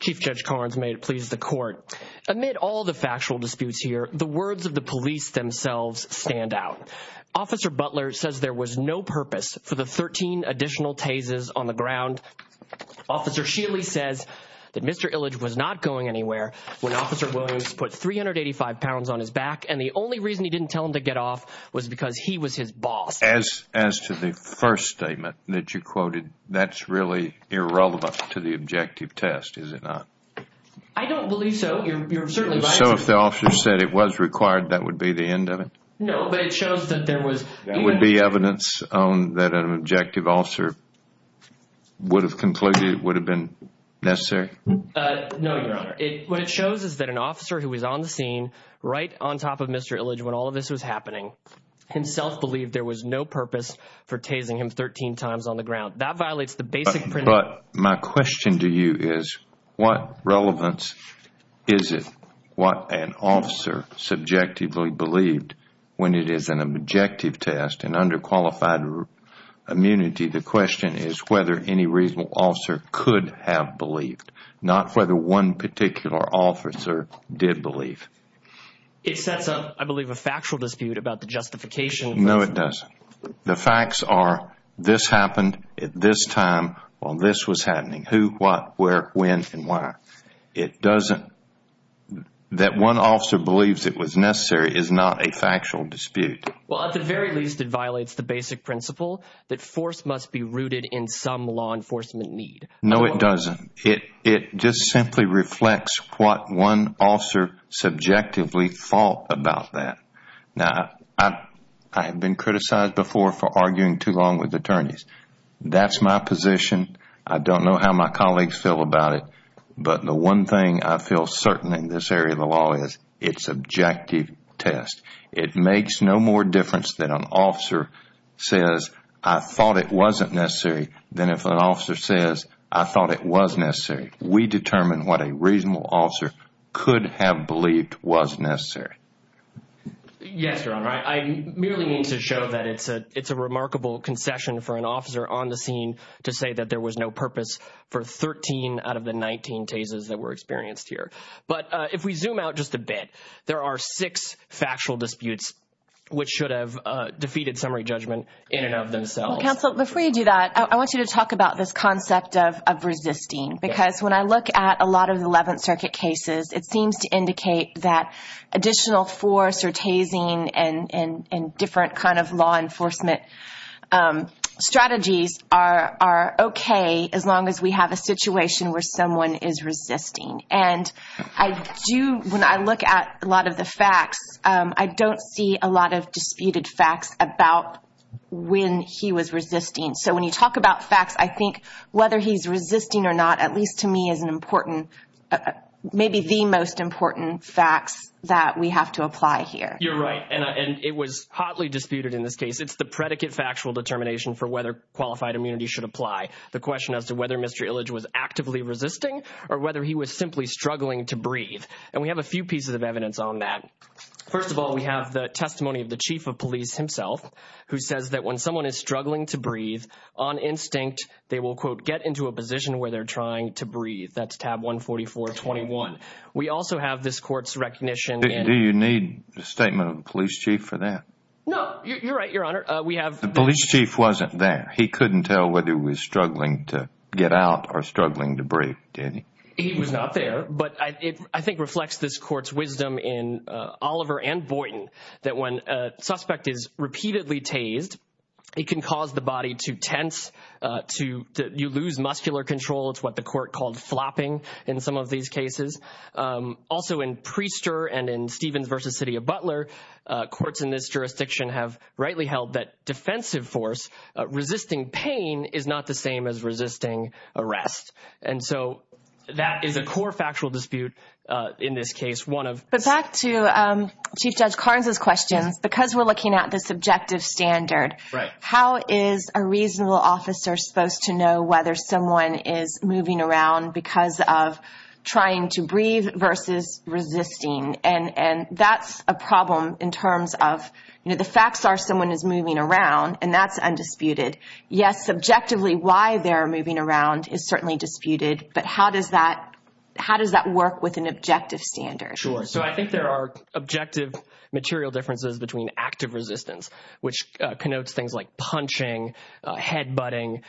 Chief Judge Karnes, may it please the court, amid all the factual disputes here, the words of the police themselves stand out. Officer Butler says there was no purpose for the 13 additional tases on the ground. Officer Shealy says that Mr. Illich was not going anywhere when Officer Williams put 385 pounds on his back and the only reason he didn't tell him to get off was because he was his boss. As to the first statement that you quoted, that's really irrelevant to the objective test, is it not? I don't believe so. You're certainly right. So if the officer said it was required, that would be the end of it? No, but it shows that there was... There would be evidence that an objective officer would have concluded it would have been necessary? No, Your Honor. What it shows is that an officer who was on the scene, right on top of Mr. Illich when all of this was happening, himself believed there was no purpose for tasing him 13 times on the ground. That violates the basic principle... In underqualified immunity, the question is whether any reasonable officer could have believed, not whether one particular officer did believe. It sets up, I believe, a factual dispute about the justification... No, it doesn't. The facts are this happened at this time while this was happening. Who, what, where, when, and why. It doesn't... That one officer believes it was necessary is not a factual dispute. Well, at the very least, it violates the basic principle that force must be rooted in some law enforcement need. No, it doesn't. It just simply reflects what one officer subjectively thought about that. Now, I have been criticized before for arguing too long with attorneys. That's my position. I don't know how my colleagues feel about it. But the one thing I feel certain in this area of the law is it's objective test. It makes no more difference that an officer says, I thought it wasn't necessary, than if an officer says, I thought it was necessary. We determine what a reasonable officer could have believed was necessary. Yes, Your Honor. I merely mean to show that it's a remarkable concession for an officer on the scene to say that there was no purpose for 13 out of the 19 tases that were experienced here. But if we zoom out just a bit, there are six factual disputes which should have defeated summary judgment in and of themselves. Counsel, before you do that, I want you to talk about this concept of resisting. Because when I look at a lot of the 11th Circuit cases, it seems to indicate that additional force or tasing and different kind of law enforcement strategies are okay as long as we have a situation where someone is resisting. And I do, when I look at a lot of the facts, I don't see a lot of disputed facts about when he was resisting. So when you talk about facts, I think whether he's resisting or not, at least to me, is an important, maybe the most important facts that we have to apply here. You're right. And it was hotly disputed in this case. It's the predicate factual determination for whether qualified immunity should apply. The question as to whether Mr. Illich was actively resisting or whether he was simply struggling to breathe. And we have a few pieces of evidence on that. First of all, we have the testimony of the chief of police himself, who says that when someone is struggling to breathe on instinct, they will, quote, get into a position where they're trying to breathe. That's tab 14421. We also have this court's recognition. Do you need a statement of the police chief for that? No, you're right, Your Honor. The police chief wasn't there. He couldn't tell whether he was struggling to get out or struggling to breathe, did he? He was not there. But I think it reflects this court's wisdom in Oliver and Boynton that when a suspect is repeatedly tased, it can cause the body to tense, you lose muscular control. It's what the court called flopping in some of these cases. Also in Priester and in Stevens v. City of Butler, courts in this jurisdiction have rightly held that defensive force, resisting pain, is not the same as resisting arrest. And so that is a core factual dispute in this case. But back to Chief Judge Carnes' questions. Because we're looking at the subjective standard, how is a reasonable officer supposed to know whether someone is moving around because of trying to breathe versus resisting? And that's a problem in terms of the facts are someone is moving around, and that's undisputed. Yes, subjectively why they're moving around is certainly disputed, but how does that work with an objective standard? Sure. So I think there are objective material differences between active resistance, which connotes things like punching, head butting,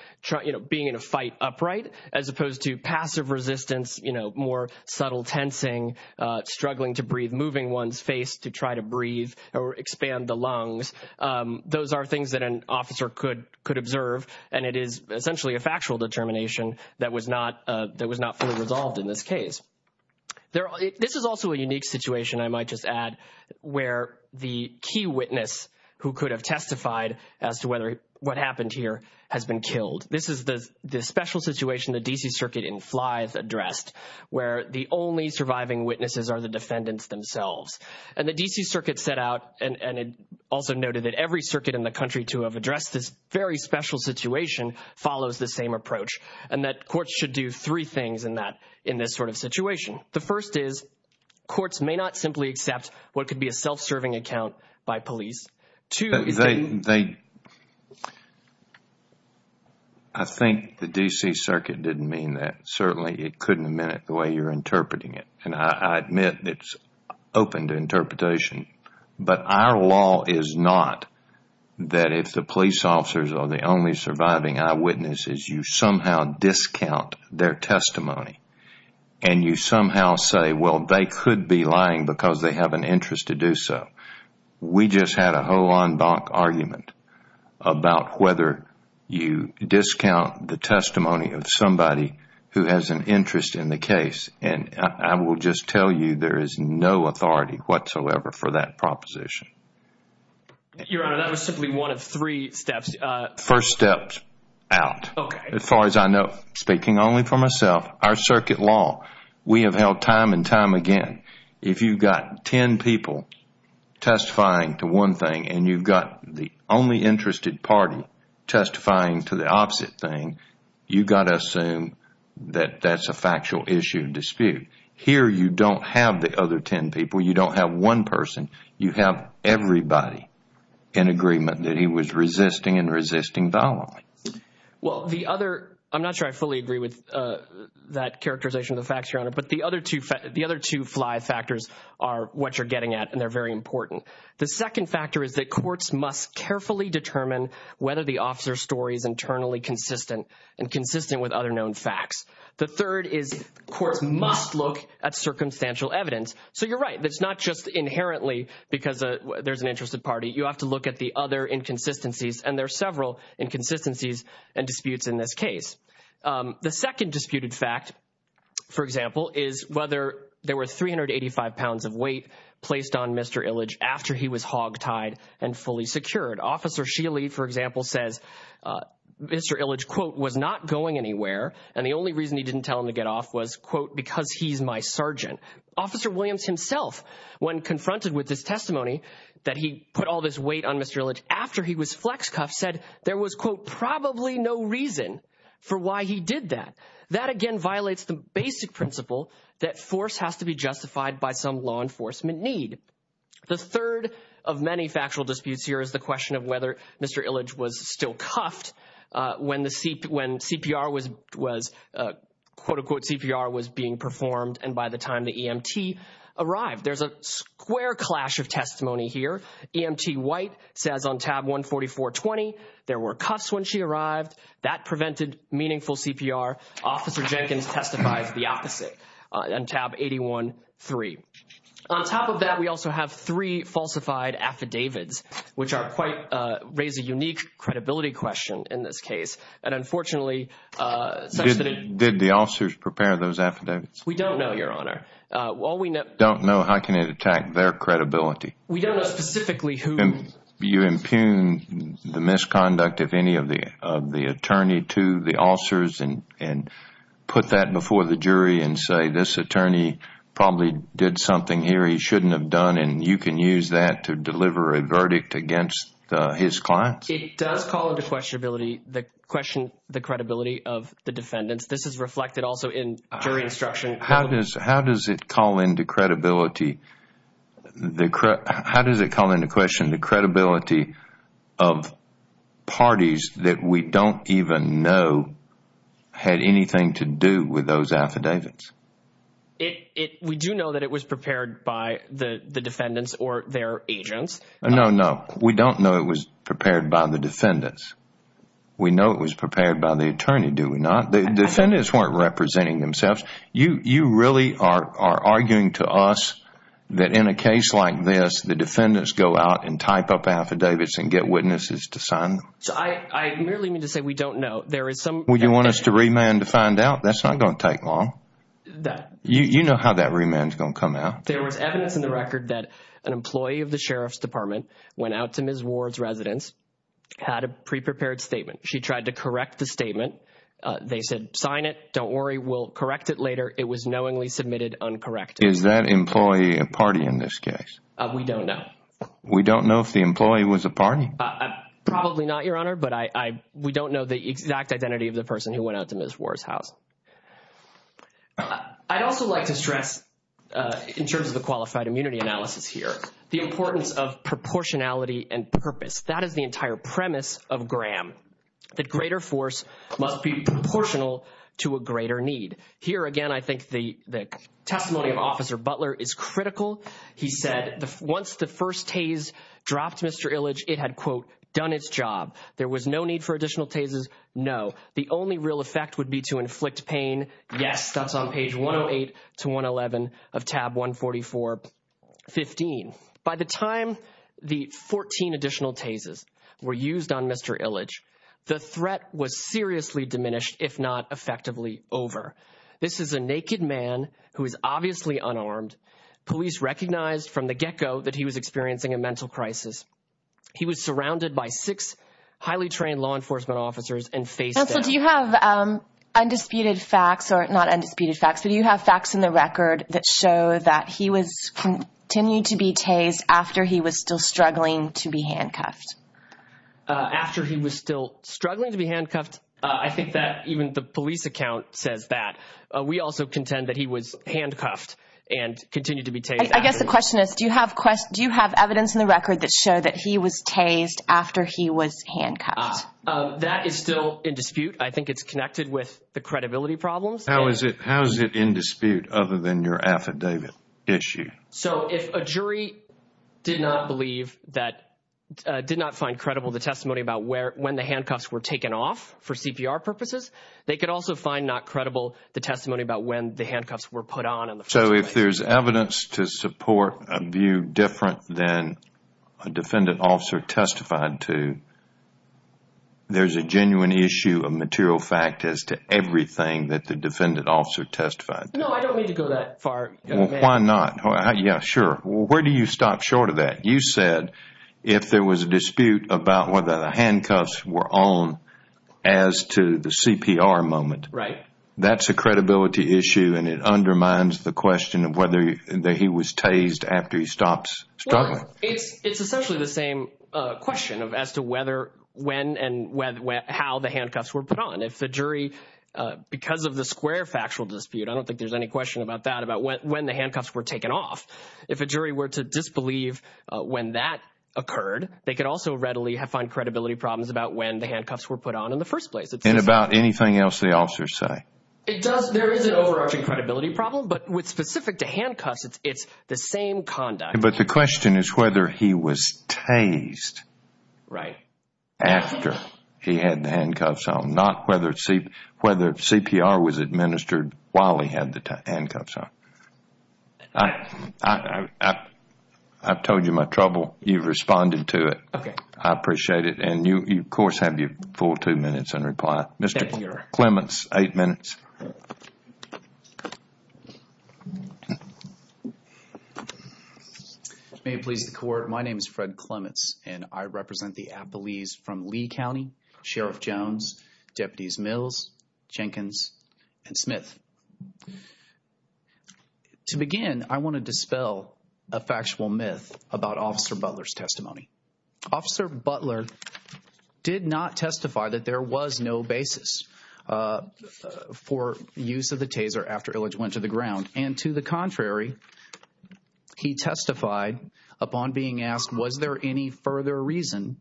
being in a fight upright, as opposed to passive resistance, more subtle tensing, struggling to breathe, moving one's face to try to breathe or expand the lungs. Those are things that an officer could observe, and it is essentially a factual determination that was not fully resolved in this case. This is also a unique situation, I might just add, where the key witness who could have testified as to what happened here has been killed. This is the special situation the D.C. Circuit in Flythe addressed, where the only surviving witnesses are the defendants themselves. And the D.C. Circuit set out, and it also noted that every circuit in the country to have addressed this very special situation follows the same approach, and that courts should do three things in this sort of situation. The first is courts may not simply accept what could be a self-serving account by police. I think the D.C. Circuit didn't mean that. Certainly, it couldn't have meant it the way you're interpreting it. And I admit it's open to interpretation, but our law is not that if the police officers are the only surviving eyewitnesses, you somehow discount their testimony. And you somehow say, well, they could be lying because they have an interest to do so. We just had a whole en banc argument about whether you discount the testimony of somebody who has an interest in the case. And I will just tell you there is no authority whatsoever for that proposition. Your Honor, that was simply one of three steps. First step out. Okay. As far as I know, speaking only for myself, our circuit law, we have held time and time again. If you've got ten people testifying to one thing and you've got the only interested party testifying to the opposite thing, you've got to assume that that's a factual issue dispute. Here, you don't have the other ten people. You don't have one person. You have everybody in agreement that he was resisting and resisting following. Well, the other, I'm not sure I fully agree with that characterization of the facts, Your Honor, but the other two fly factors are what you're getting at, and they're very important. The second factor is that courts must carefully determine whether the officer's story is internally consistent and consistent with other known facts. The third is courts must look at circumstantial evidence. So you're right. It's not just inherently because there's an interested party. You have to look at the other inconsistencies, and there are several inconsistencies and disputes in this case. The second disputed fact, for example, is whether there were 385 pounds of weight placed on Mr. Illich after he was hogtied and fully secured. Officer Sheely, for example, says Mr. Illich, quote, was not going anywhere, and the only reason he didn't tell him to get off was, quote, because he's my sergeant. Officer Williams himself, when confronted with this testimony that he put all this weight on Mr. Illich after he was flex cuffed, said there was, quote, probably no reason for why he did that. That, again, violates the basic principle that force has to be justified by some law enforcement need. The third of many factual disputes here is the question of whether Mr. Illich was still cuffed when CPR was being performed and by the time the EMT arrived. There's a square clash of testimony here. EMT White says on tab 144.20 there were cuffs when she arrived. That prevented meaningful CPR. Officer Jenkins testifies the opposite on tab 81.3. On top of that, we also have three falsified affidavits, which are quite – raise a unique credibility question in this case. And unfortunately, such that it – Did the officers prepare those affidavits? We don't know, Your Honor. Don't know? How can it attack their credibility? We don't know specifically who – You impugn the misconduct of any of the attorney to the officers and put that before the jury and say, this attorney probably did something here he shouldn't have done, and you can use that to deliver a verdict against his clients? It does call into questionability – question the credibility of the defendants. This is reflected also in jury instruction. How does it call into credibility – how does it call into question the credibility of parties that we don't even know had anything to do with those affidavits? We do know that it was prepared by the defendants or their agents. No, no. We don't know it was prepared by the defendants. We know it was prepared by the attorney, do we not? The defendants weren't representing themselves. You really are arguing to us that in a case like this, the defendants go out and type up affidavits and get witnesses to sign them? I merely mean to say we don't know. Would you want us to remand to find out? That's not going to take long. You know how that remand is going to come out. There was evidence in the record that an employee of the Sheriff's Department went out to Ms. Ward's residence, had a pre-prepared statement. She tried to correct the statement. They said sign it, don't worry, we'll correct it later. It was knowingly submitted uncorrected. Is that employee a party in this case? We don't know. We don't know if the employee was a party? Probably not, Your Honor, but we don't know the exact identity of the person who went out to Ms. Ward's house. I'd also like to stress, in terms of the qualified immunity analysis here, the importance of proportionality and purpose. That is the entire premise of Graham, that greater force must be proportional to a greater need. Here again, I think the testimony of Officer Butler is critical. He said once the first tase dropped Mr. Illich, it had, quote, done its job. There was no need for additional tases, no. The only real effect would be to inflict pain. Yes, that's on page 108 to 111 of tab 144.15. By the time the 14 additional tases were used on Mr. Illich, the threat was seriously diminished, if not effectively over. This is a naked man who is obviously unarmed. Police recognized from the get-go that he was experiencing a mental crisis. He was surrounded by six highly trained law enforcement officers and faced death. Do you have facts in the record that show that he continued to be tased after he was still struggling to be handcuffed? After he was still struggling to be handcuffed? I think that even the police account says that. We also contend that he was handcuffed and continued to be tased. I guess the question is, do you have evidence in the record that show that he was tased after he was handcuffed? That is still in dispute. I think it's connected with the credibility problems. How is it in dispute other than your affidavit issue? So if a jury did not find credible the testimony about when the handcuffs were taken off for CPR purposes, they could also find not credible the testimony about when the handcuffs were put on. So if there's evidence to support a view different than a defendant officer testified to, there's a genuine issue of material fact as to everything that the defendant officer testified to. No, I don't mean to go that far. Why not? Yeah, sure. Where do you stop short of that? You said if there was a dispute about whether the handcuffs were on as to the CPR moment. Right. That's a credibility issue, and it undermines the question of whether he was tased after he stops struggling. It's essentially the same question as to when and how the handcuffs were put on. If the jury, because of the square factual dispute, I don't think there's any question about that, about when the handcuffs were taken off. If a jury were to disbelieve when that occurred, they could also readily find credibility problems about when the handcuffs were put on in the first place. And about anything else the officers say. There is an overarching credibility problem, but with specific to handcuffs, it's the same conduct. But the question is whether he was tased after he had the handcuffs on, not whether CPR was administered while he had the handcuffs on. I've told you my trouble. You've responded to it. I appreciate it. And you, of course, have your full two minutes and reply. Mr. Clements, eight minutes. May it please the court, my name is Fred Clements, and I represent the Appalachians from Lee County, Sheriff Jones, Deputies Mills, Jenkins, and Smith. To begin, I want to dispel a factual myth about Officer Butler's testimony. Officer Butler did not testify that there was no basis for use of the taser after Illich went to the ground. And to the contrary, he testified upon being asked was there any further reason,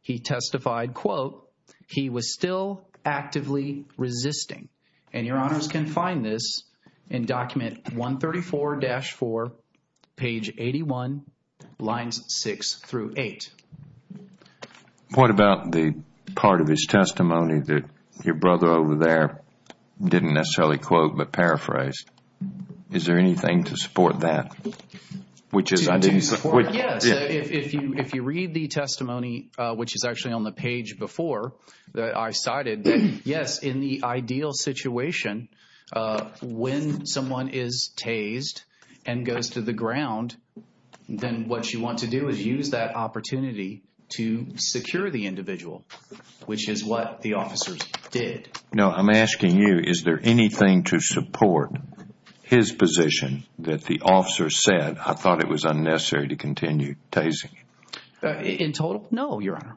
he testified, quote, he was still actively resisting. And your honors can find this in document 134-4, page 81, lines 6 through 8. What about the part of his testimony that your brother over there didn't necessarily quote but paraphrased? Is there anything to support that? To support, yes. If you read the testimony, which is actually on the page before that I cited, yes, in the ideal situation, when someone is tased and goes to the ground, then what you want to do is use that opportunity to secure the individual, which is what the officers did. Now, I'm asking you, is there anything to support his position that the officers said, I thought it was unnecessary to continue tasing him? In total, no, your honor.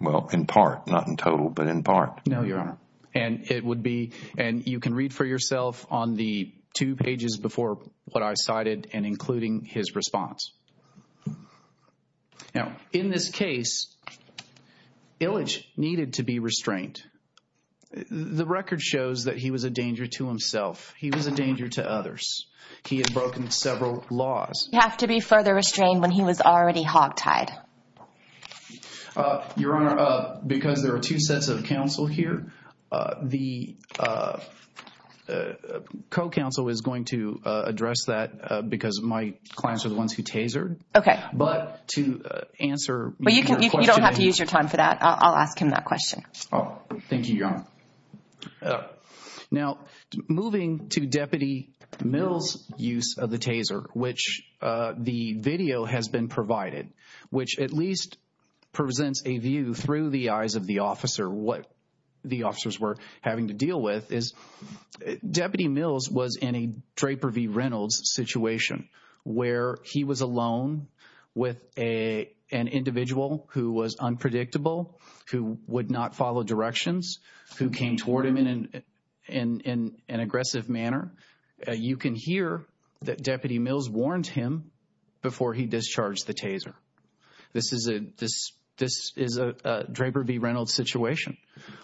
Well, in part, not in total, but in part. No, your honor. And it would be, and you can read for yourself on the two pages before what I cited and including his response. Now, in this case, Illich needed to be restrained. The record shows that he was a danger to himself. He was a danger to others. He had broken several laws. You have to be further restrained when he was already hogtied. Your honor, because there are two sets of counsel here, the co-counsel is going to address that because my clients are the ones who tasered. Okay. But to answer your question. You don't have to use your time for that. I'll ask him that question. Thank you, your honor. Now, moving to Deputy Mills' use of the taser, which the video has been provided, which at least presents a view through the eyes of the officer what the officers were having to deal with, is Deputy Mills was in a Draper v. Reynolds situation where he was alone with an individual who was unpredictable, who would not follow directions, who came toward him in an aggressive manner. You can hear that Deputy Mills warned him before he discharged the taser. This is a Draper v. Reynolds situation.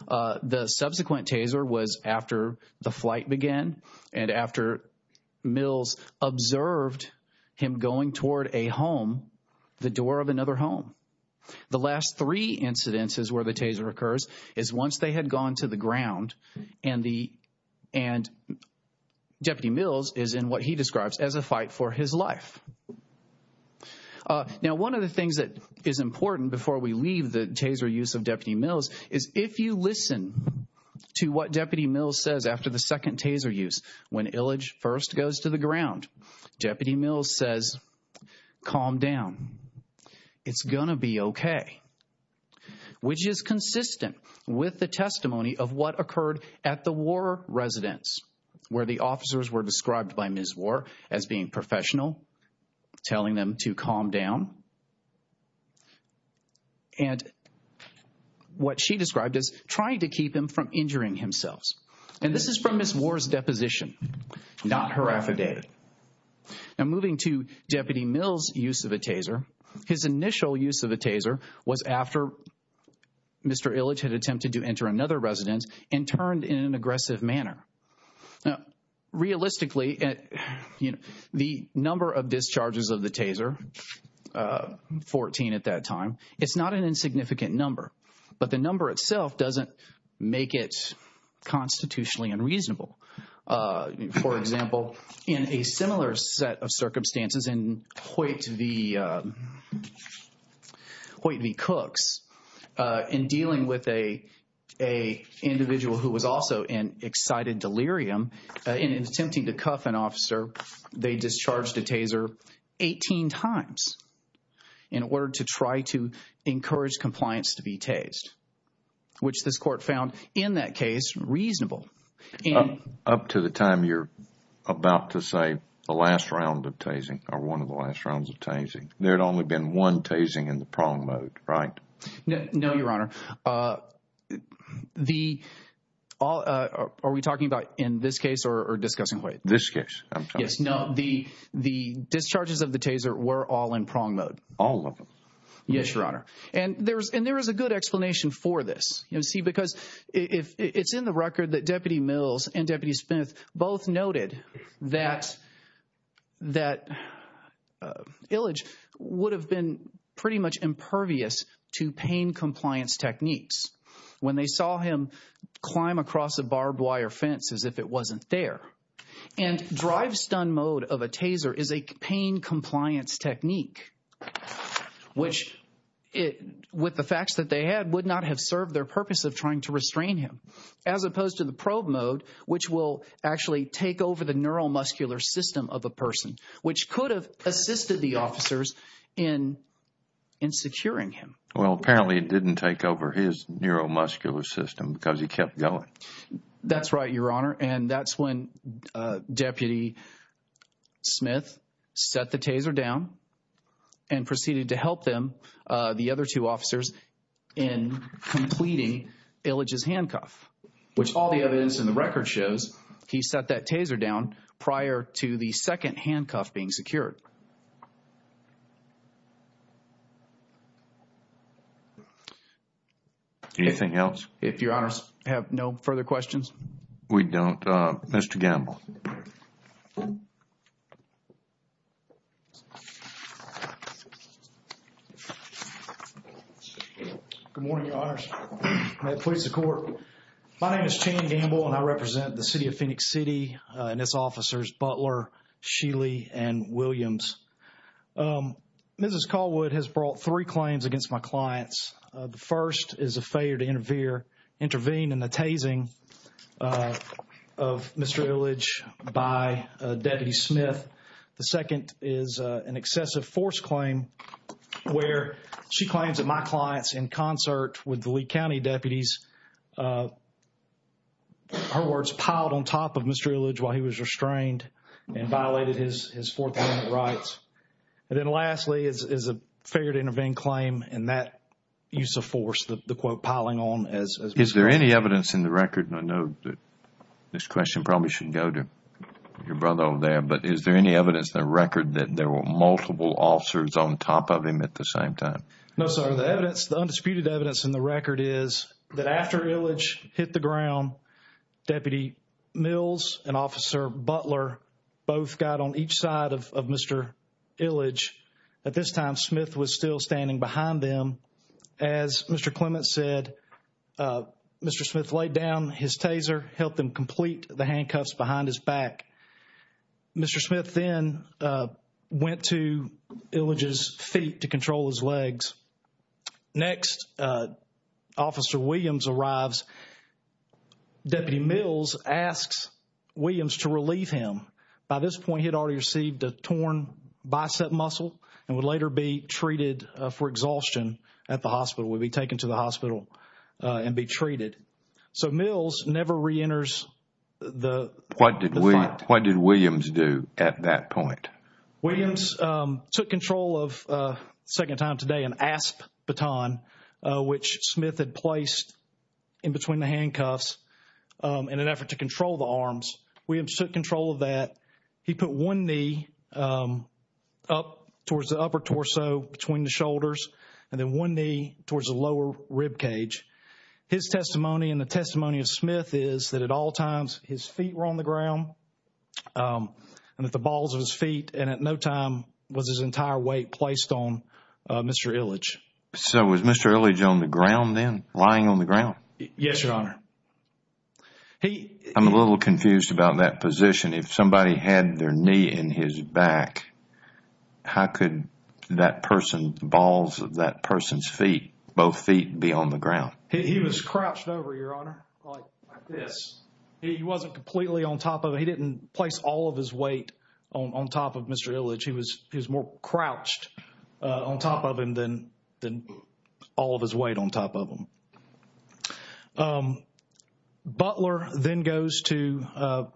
The subsequent taser was after the flight began and after Mills observed him going toward a home, the door of another home. The last three incidences where the taser occurs is once they had gone to the ground and Deputy Mills is in what he describes as a fight for his life. Now, one of the things that is important before we leave the taser use of Deputy Mills is if you listen to what Deputy Mills says after the second taser use, when Illage first goes to the ground, Deputy Mills says, calm down, it's going to be okay, which is consistent with the testimony of what occurred at the War residence where the officers were described by Ms. War as being professional, telling them to calm down, and what she described as trying to keep him from injuring himself. And this is from Ms. War's deposition, not her affidavit. Now, moving to Deputy Mills' use of a taser, his initial use of a taser was after Mr. Illage had attempted to enter another residence and turned in an aggressive manner. Now, realistically, the number of discharges of the taser, 14 at that time, it's not an insignificant number, but the number itself doesn't make it constitutionally unreasonable. For example, in a similar set of circumstances in Hoyt v. Cooks, in dealing with an individual who was also in excited delirium, in attempting to cuff an officer, they discharged a taser 18 times in order to try to encourage compliance to be tased, which this court found in that case reasonable. Up to the time you're about to say the last round of tasing or one of the last rounds of tasing, there had only been one tasing in the prong mode, right? No, Your Honor. Are we talking about in this case or discussing Hoyt? This case. Yes, no, the discharges of the taser were all in prong mode. All of them? Yes, Your Honor. And there is a good explanation for this, you see, because it's in the record that Deputy Mills and Deputy Smith both noted that Illage would have been pretty much impervious to pain compliance techniques when they saw him climb across a barbed wire fence as if it wasn't there and drive stun mode of a taser is a pain compliance technique, which with the facts that they had would not have served their purpose of trying to restrain him as opposed to the probe mode, which will actually take over the neuromuscular system of a person, which could have assisted the officers in securing him. Well, apparently it didn't take over his neuromuscular system because he kept going. That's right, Your Honor, and that's when Deputy Smith set the taser down and proceeded to help them, the other two officers, in completing Illage's handcuff, which all the evidence in the record shows he set that taser down prior to the second handcuff being secured. Anything else? If Your Honors have no further questions. We don't. Mr. Gamble. Good morning, Your Honors. May it please the Court. My name is Chan Gamble and I represent the City of Phoenix City and its officers, Butler, Sheely, and Williams. Mrs. Callwood has brought three claims against my clients. The first is a failure to intervene in the tasing of Mr. Illage by Deputy Smith. The second is an excessive force claim where she claims that my clients, in concert with the Lee County deputies, her words piled on top of Mr. Illage while he was restrained and violated his Fourth Amendment rights. And then lastly is a failure to intervene claim and that use of force, the quote, piling on. Is there any evidence in the record, and I know that this question probably should go to your brother over there, but is there any evidence in the record that there were multiple officers on top of him at the same time? No, sir. The evidence, the undisputed evidence in the record is that after Illage hit the ground, Deputy Mills and Officer Butler both got on each side of Mr. Illage. At this time, Smith was still standing behind them. As Mr. Clements said, Mr. Smith laid down his taser, helped him complete the handcuffs behind his back. Mr. Smith then went to Illage's feet to control his legs. Next, Officer Williams arrives. Deputy Mills asks Williams to relieve him. By this point, he had already received a torn bicep muscle and would later be treated for exhaustion at the hospital, would be taken to the hospital and be treated. So Mills never reenters the fight. What did Williams do at that point? Williams took control of, second time today, an ASP baton, which Smith had placed in between the handcuffs in an effort to control the arms. Williams took control of that. He put one knee up towards the upper torso between the shoulders and then one knee towards the lower ribcage. His testimony and the testimony of Smith is that at all times his feet were on the ground and at the balls of his feet and at no time was his entire weight placed on Mr. Illage. So was Mr. Illage on the ground then, lying on the ground? Yes, Your Honor. I'm a little confused about that position. If somebody had their knee in his back, how could that person, the balls of that person's feet, both feet be on the ground? He was crouched over, Your Honor, like this. He wasn't completely on top of it. He didn't place all of his weight on top of Mr. Illage. He was more crouched on top of him than all of his weight on top of him. Butler then goes to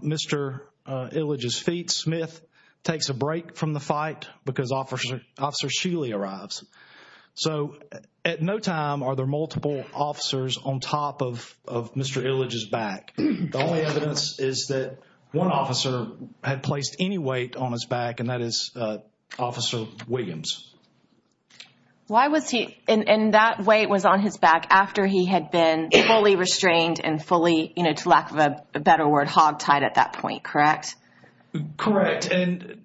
Mr. Illage's feet. Smith takes a break from the fight because Officer Sheely arrives. So at no time are there multiple officers on top of Mr. Illage's back. The only evidence is that one officer had placed any weight on his back and that is Officer Williams. And that weight was on his back after he had been fully restrained and fully, to lack of a better word, hogtied at that point, correct? Correct. And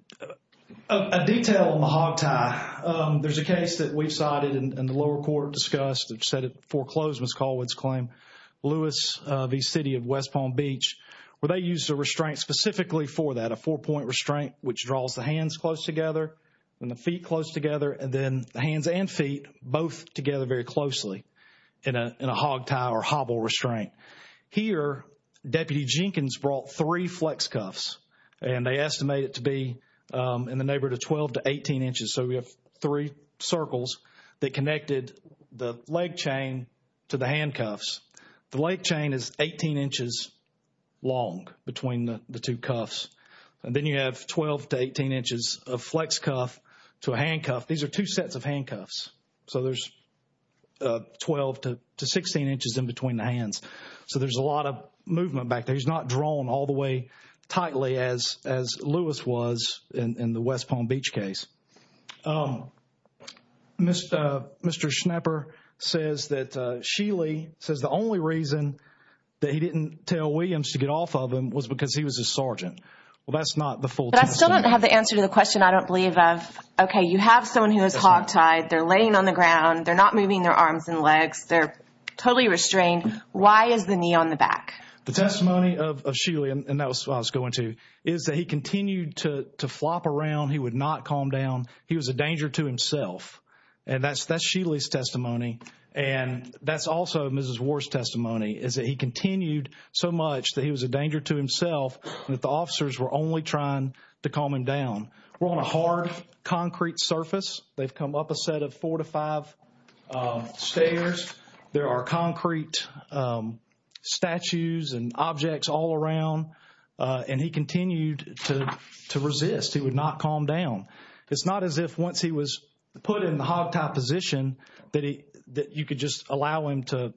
a detail on the hogtie. There's a case that we've cited and the lower court discussed, which said it foreclosed Ms. Caldwell's claim, Lewis v. City of West Palm Beach, where they used a restraint specifically for that, a four-point restraint, which draws the hands close together and the feet close together, and then the hands and feet both together very closely in a hogtie or hobble restraint. Here, Deputy Jenkins brought three flex cuffs and they estimate it to be in the neighborhood of 12 to 18 inches. So we have three circles that connected the leg chain to the handcuffs. The leg chain is 18 inches long between the two cuffs. And then you have 12 to 18 inches of flex cuff to a handcuff. These are two sets of handcuffs. So there's 12 to 16 inches in between the hands. So there's a lot of movement back there. He's not drawn all the way tightly as Lewis was in the West Palm Beach case. Mr. Schnapper says that Sheely says the only reason that he didn't tell Williams to get off of him was because he was a sergeant. Well, that's not the full testimony. But I still don't have the answer to the question I don't believe of. Okay, you have someone who is hogtied. They're laying on the ground. They're not moving their arms and legs. They're totally restrained. Why is the knee on the back? The testimony of Sheely, and that's what I was going to, is that he continued to flop around. He would not calm down. He was a danger to himself. And that's Sheely's testimony, and that's also Mrs. Ward's testimony, is that he continued so much that he was a danger to himself and that the officers were only trying to calm him down. We're on a hard concrete surface. They've come up a set of four to five stairs. There are concrete statues and objects all around, and he continued to resist. He would not calm down. It's not as if once he was put in the hogtie position that you could just allow him to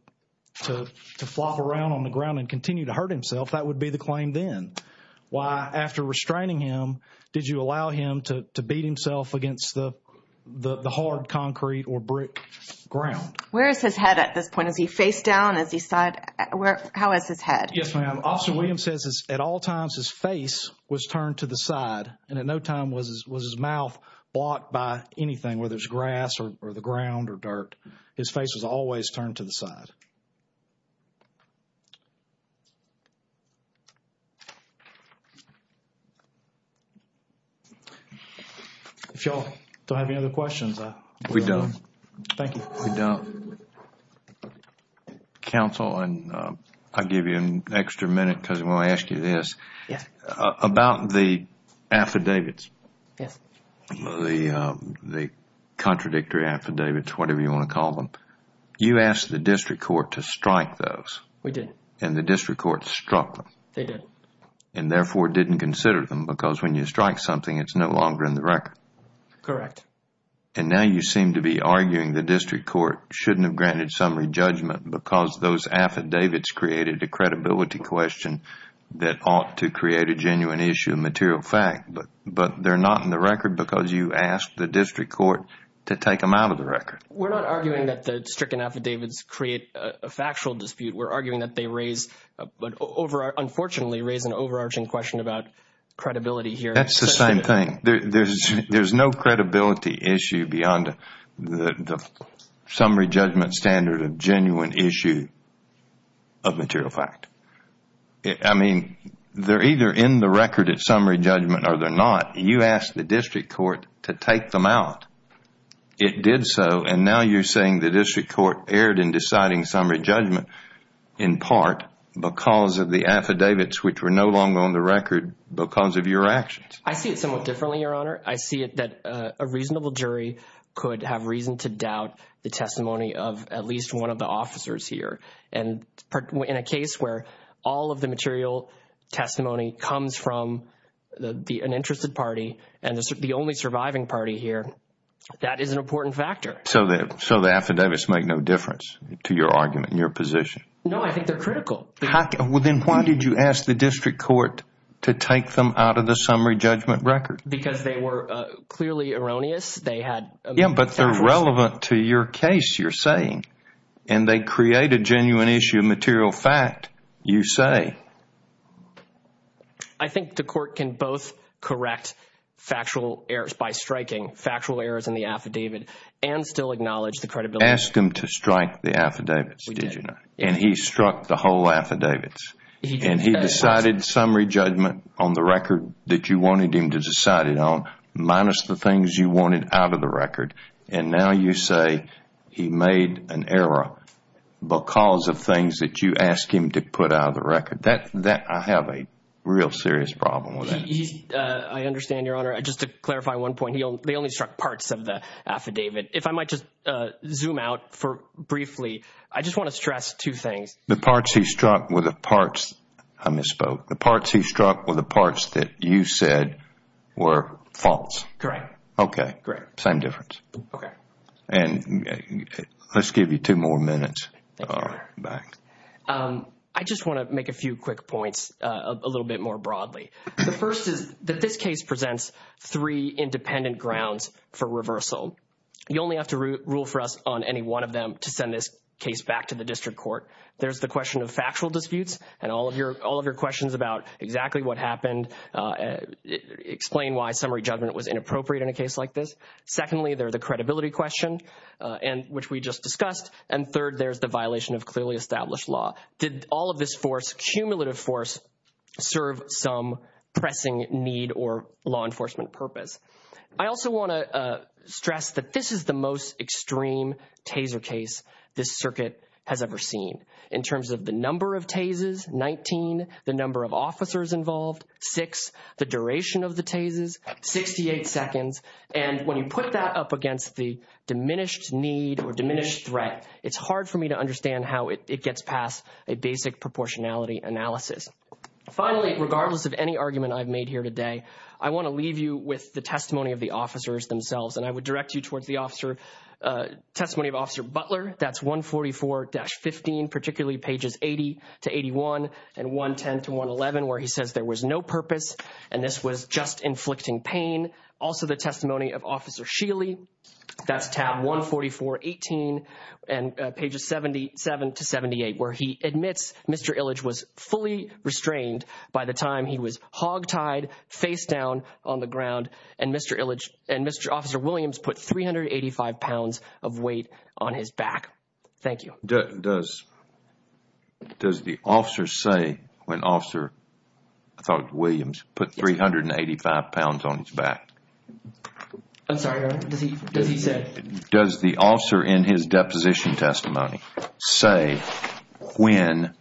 flop around on the ground and continue to hurt himself. That would be the claim then. Why, after restraining him, did you allow him to beat himself against the hard concrete or brick ground? Where is his head at this point? Is he face down? Is he side? How is his head? Yes, ma'am. Officer Williams says at all times his face was turned to the side, and at no time was his mouth blocked by anything, whether it's grass or the ground or dirt. His face was always turned to the side. If you all don't have any other questions. We don't. Thank you. We don't. Counsel, and I'll give you an extra minute because I'm going to ask you this. Yes. About the affidavits. Yes. The contradictory affidavits, whatever you want to call them. You asked the district court to strike those. We did. And the district court struck them. They did. And, therefore, didn't consider them because when you strike something, it's no longer in the record. Correct. And now you seem to be arguing the district court shouldn't have granted summary judgment because those affidavits created a credibility question that ought to create a genuine issue, a material fact, but they're not in the record because you asked the district court to take them out of the record. We're not arguing that the stricken affidavits create a factual dispute. We're arguing that they raise, unfortunately, raise an overarching question about credibility here. That's the same thing. There's no credibility issue beyond the summary judgment standard of genuine issue of material fact. I mean, they're either in the record at summary judgment or they're not. You asked the district court to take them out. It did so. And now you're saying the district court erred in deciding summary judgment in part because of the affidavits, which were no longer on the record because of your actions. I see it somewhat differently, Your Honor. I see it that a reasonable jury could have reason to doubt the testimony of at least one of the officers here. And in a case where all of the material testimony comes from an interested party and the only surviving party here, that is an important factor. So the affidavits make no difference to your argument and your position? No, I think they're critical. Well, then why did you ask the district court to take them out of the summary judgment record? Because they were clearly erroneous. Yeah, but they're relevant to your case, you're saying. And they create a genuine issue of material fact, you say. I think the court can both correct factual errors by striking factual errors in the affidavit and still acknowledge the credibility. Ask him to strike the affidavits, did you not? And he struck the whole affidavits. And he decided summary judgment on the record that you wanted him to decide it on, minus the things you wanted out of the record. And now you say he made an error because of things that you asked him to put out of the record. I have a real serious problem with that. I understand, Your Honor. Just to clarify one point, they only struck parts of the affidavit. If I might just zoom out briefly, I just want to stress two things. The parts he struck were the parts I misspoke. The parts he struck were the parts that you said were false. Correct. Okay. Same difference. Okay. And let's give you two more minutes back. I just want to make a few quick points a little bit more broadly. The first is that this case presents three independent grounds for reversal. You only have to rule for us on any one of them to send this case back to the district court. There's the question of factual disputes and all of your questions about exactly what happened, explain why summary judgment was inappropriate in a case like this. Secondly, there's the credibility question, which we just discussed. And third, there's the violation of clearly established law. Did all of this force, cumulative force, serve some pressing need or law enforcement purpose? I also want to stress that this is the most extreme taser case this circuit has ever seen. In terms of the number of tasers, 19, the number of officers involved, six, the duration of the tasers, 68 seconds. And when you put that up against the diminished need or diminished threat, it's hard for me to understand how it gets past a basic proportionality analysis. Finally, regardless of any argument I've made here today, I want to leave you with the testimony of the officers themselves, and I would direct you towards the testimony of Officer Butler. That's 144-15, particularly pages 80 to 81 and 110 to 111, where he says there was no purpose and this was just inflicting pain. Also, the testimony of Officer Sheely. That's tab 144-18 and pages 77 to 78, where he admits Mr. Illich was fully restrained by the time he was hogtied, face down on the ground, and Mr. Officer Williams put 385 pounds of weight on his back. Thank you. Does the officer say when Officer, I thought it was Williams, put 385 pounds on his back? I'm sorry. Does he say? Does the officer in his deposition testimony say when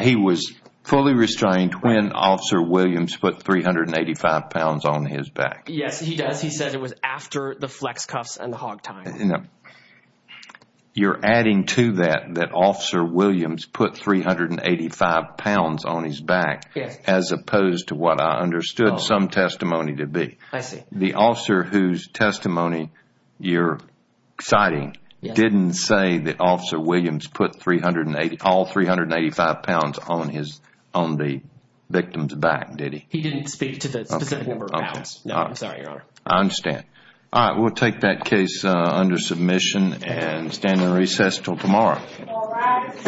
he was fully restrained when Officer Williams put 385 pounds on his back? Yes, he does. He says it was after the flex cuffs and the hog tying. You're adding to that that Officer Williams put 385 pounds on his back as opposed to what I understood some testimony to be. I see. The officer whose testimony you're citing didn't say that Officer Williams put all 385 pounds on the victim's back, did he? He didn't speak to the specific number of pounds. No, I'm sorry, Your Honor. I understand. All right. We'll take that case under submission and stand in recess until tomorrow. All rise.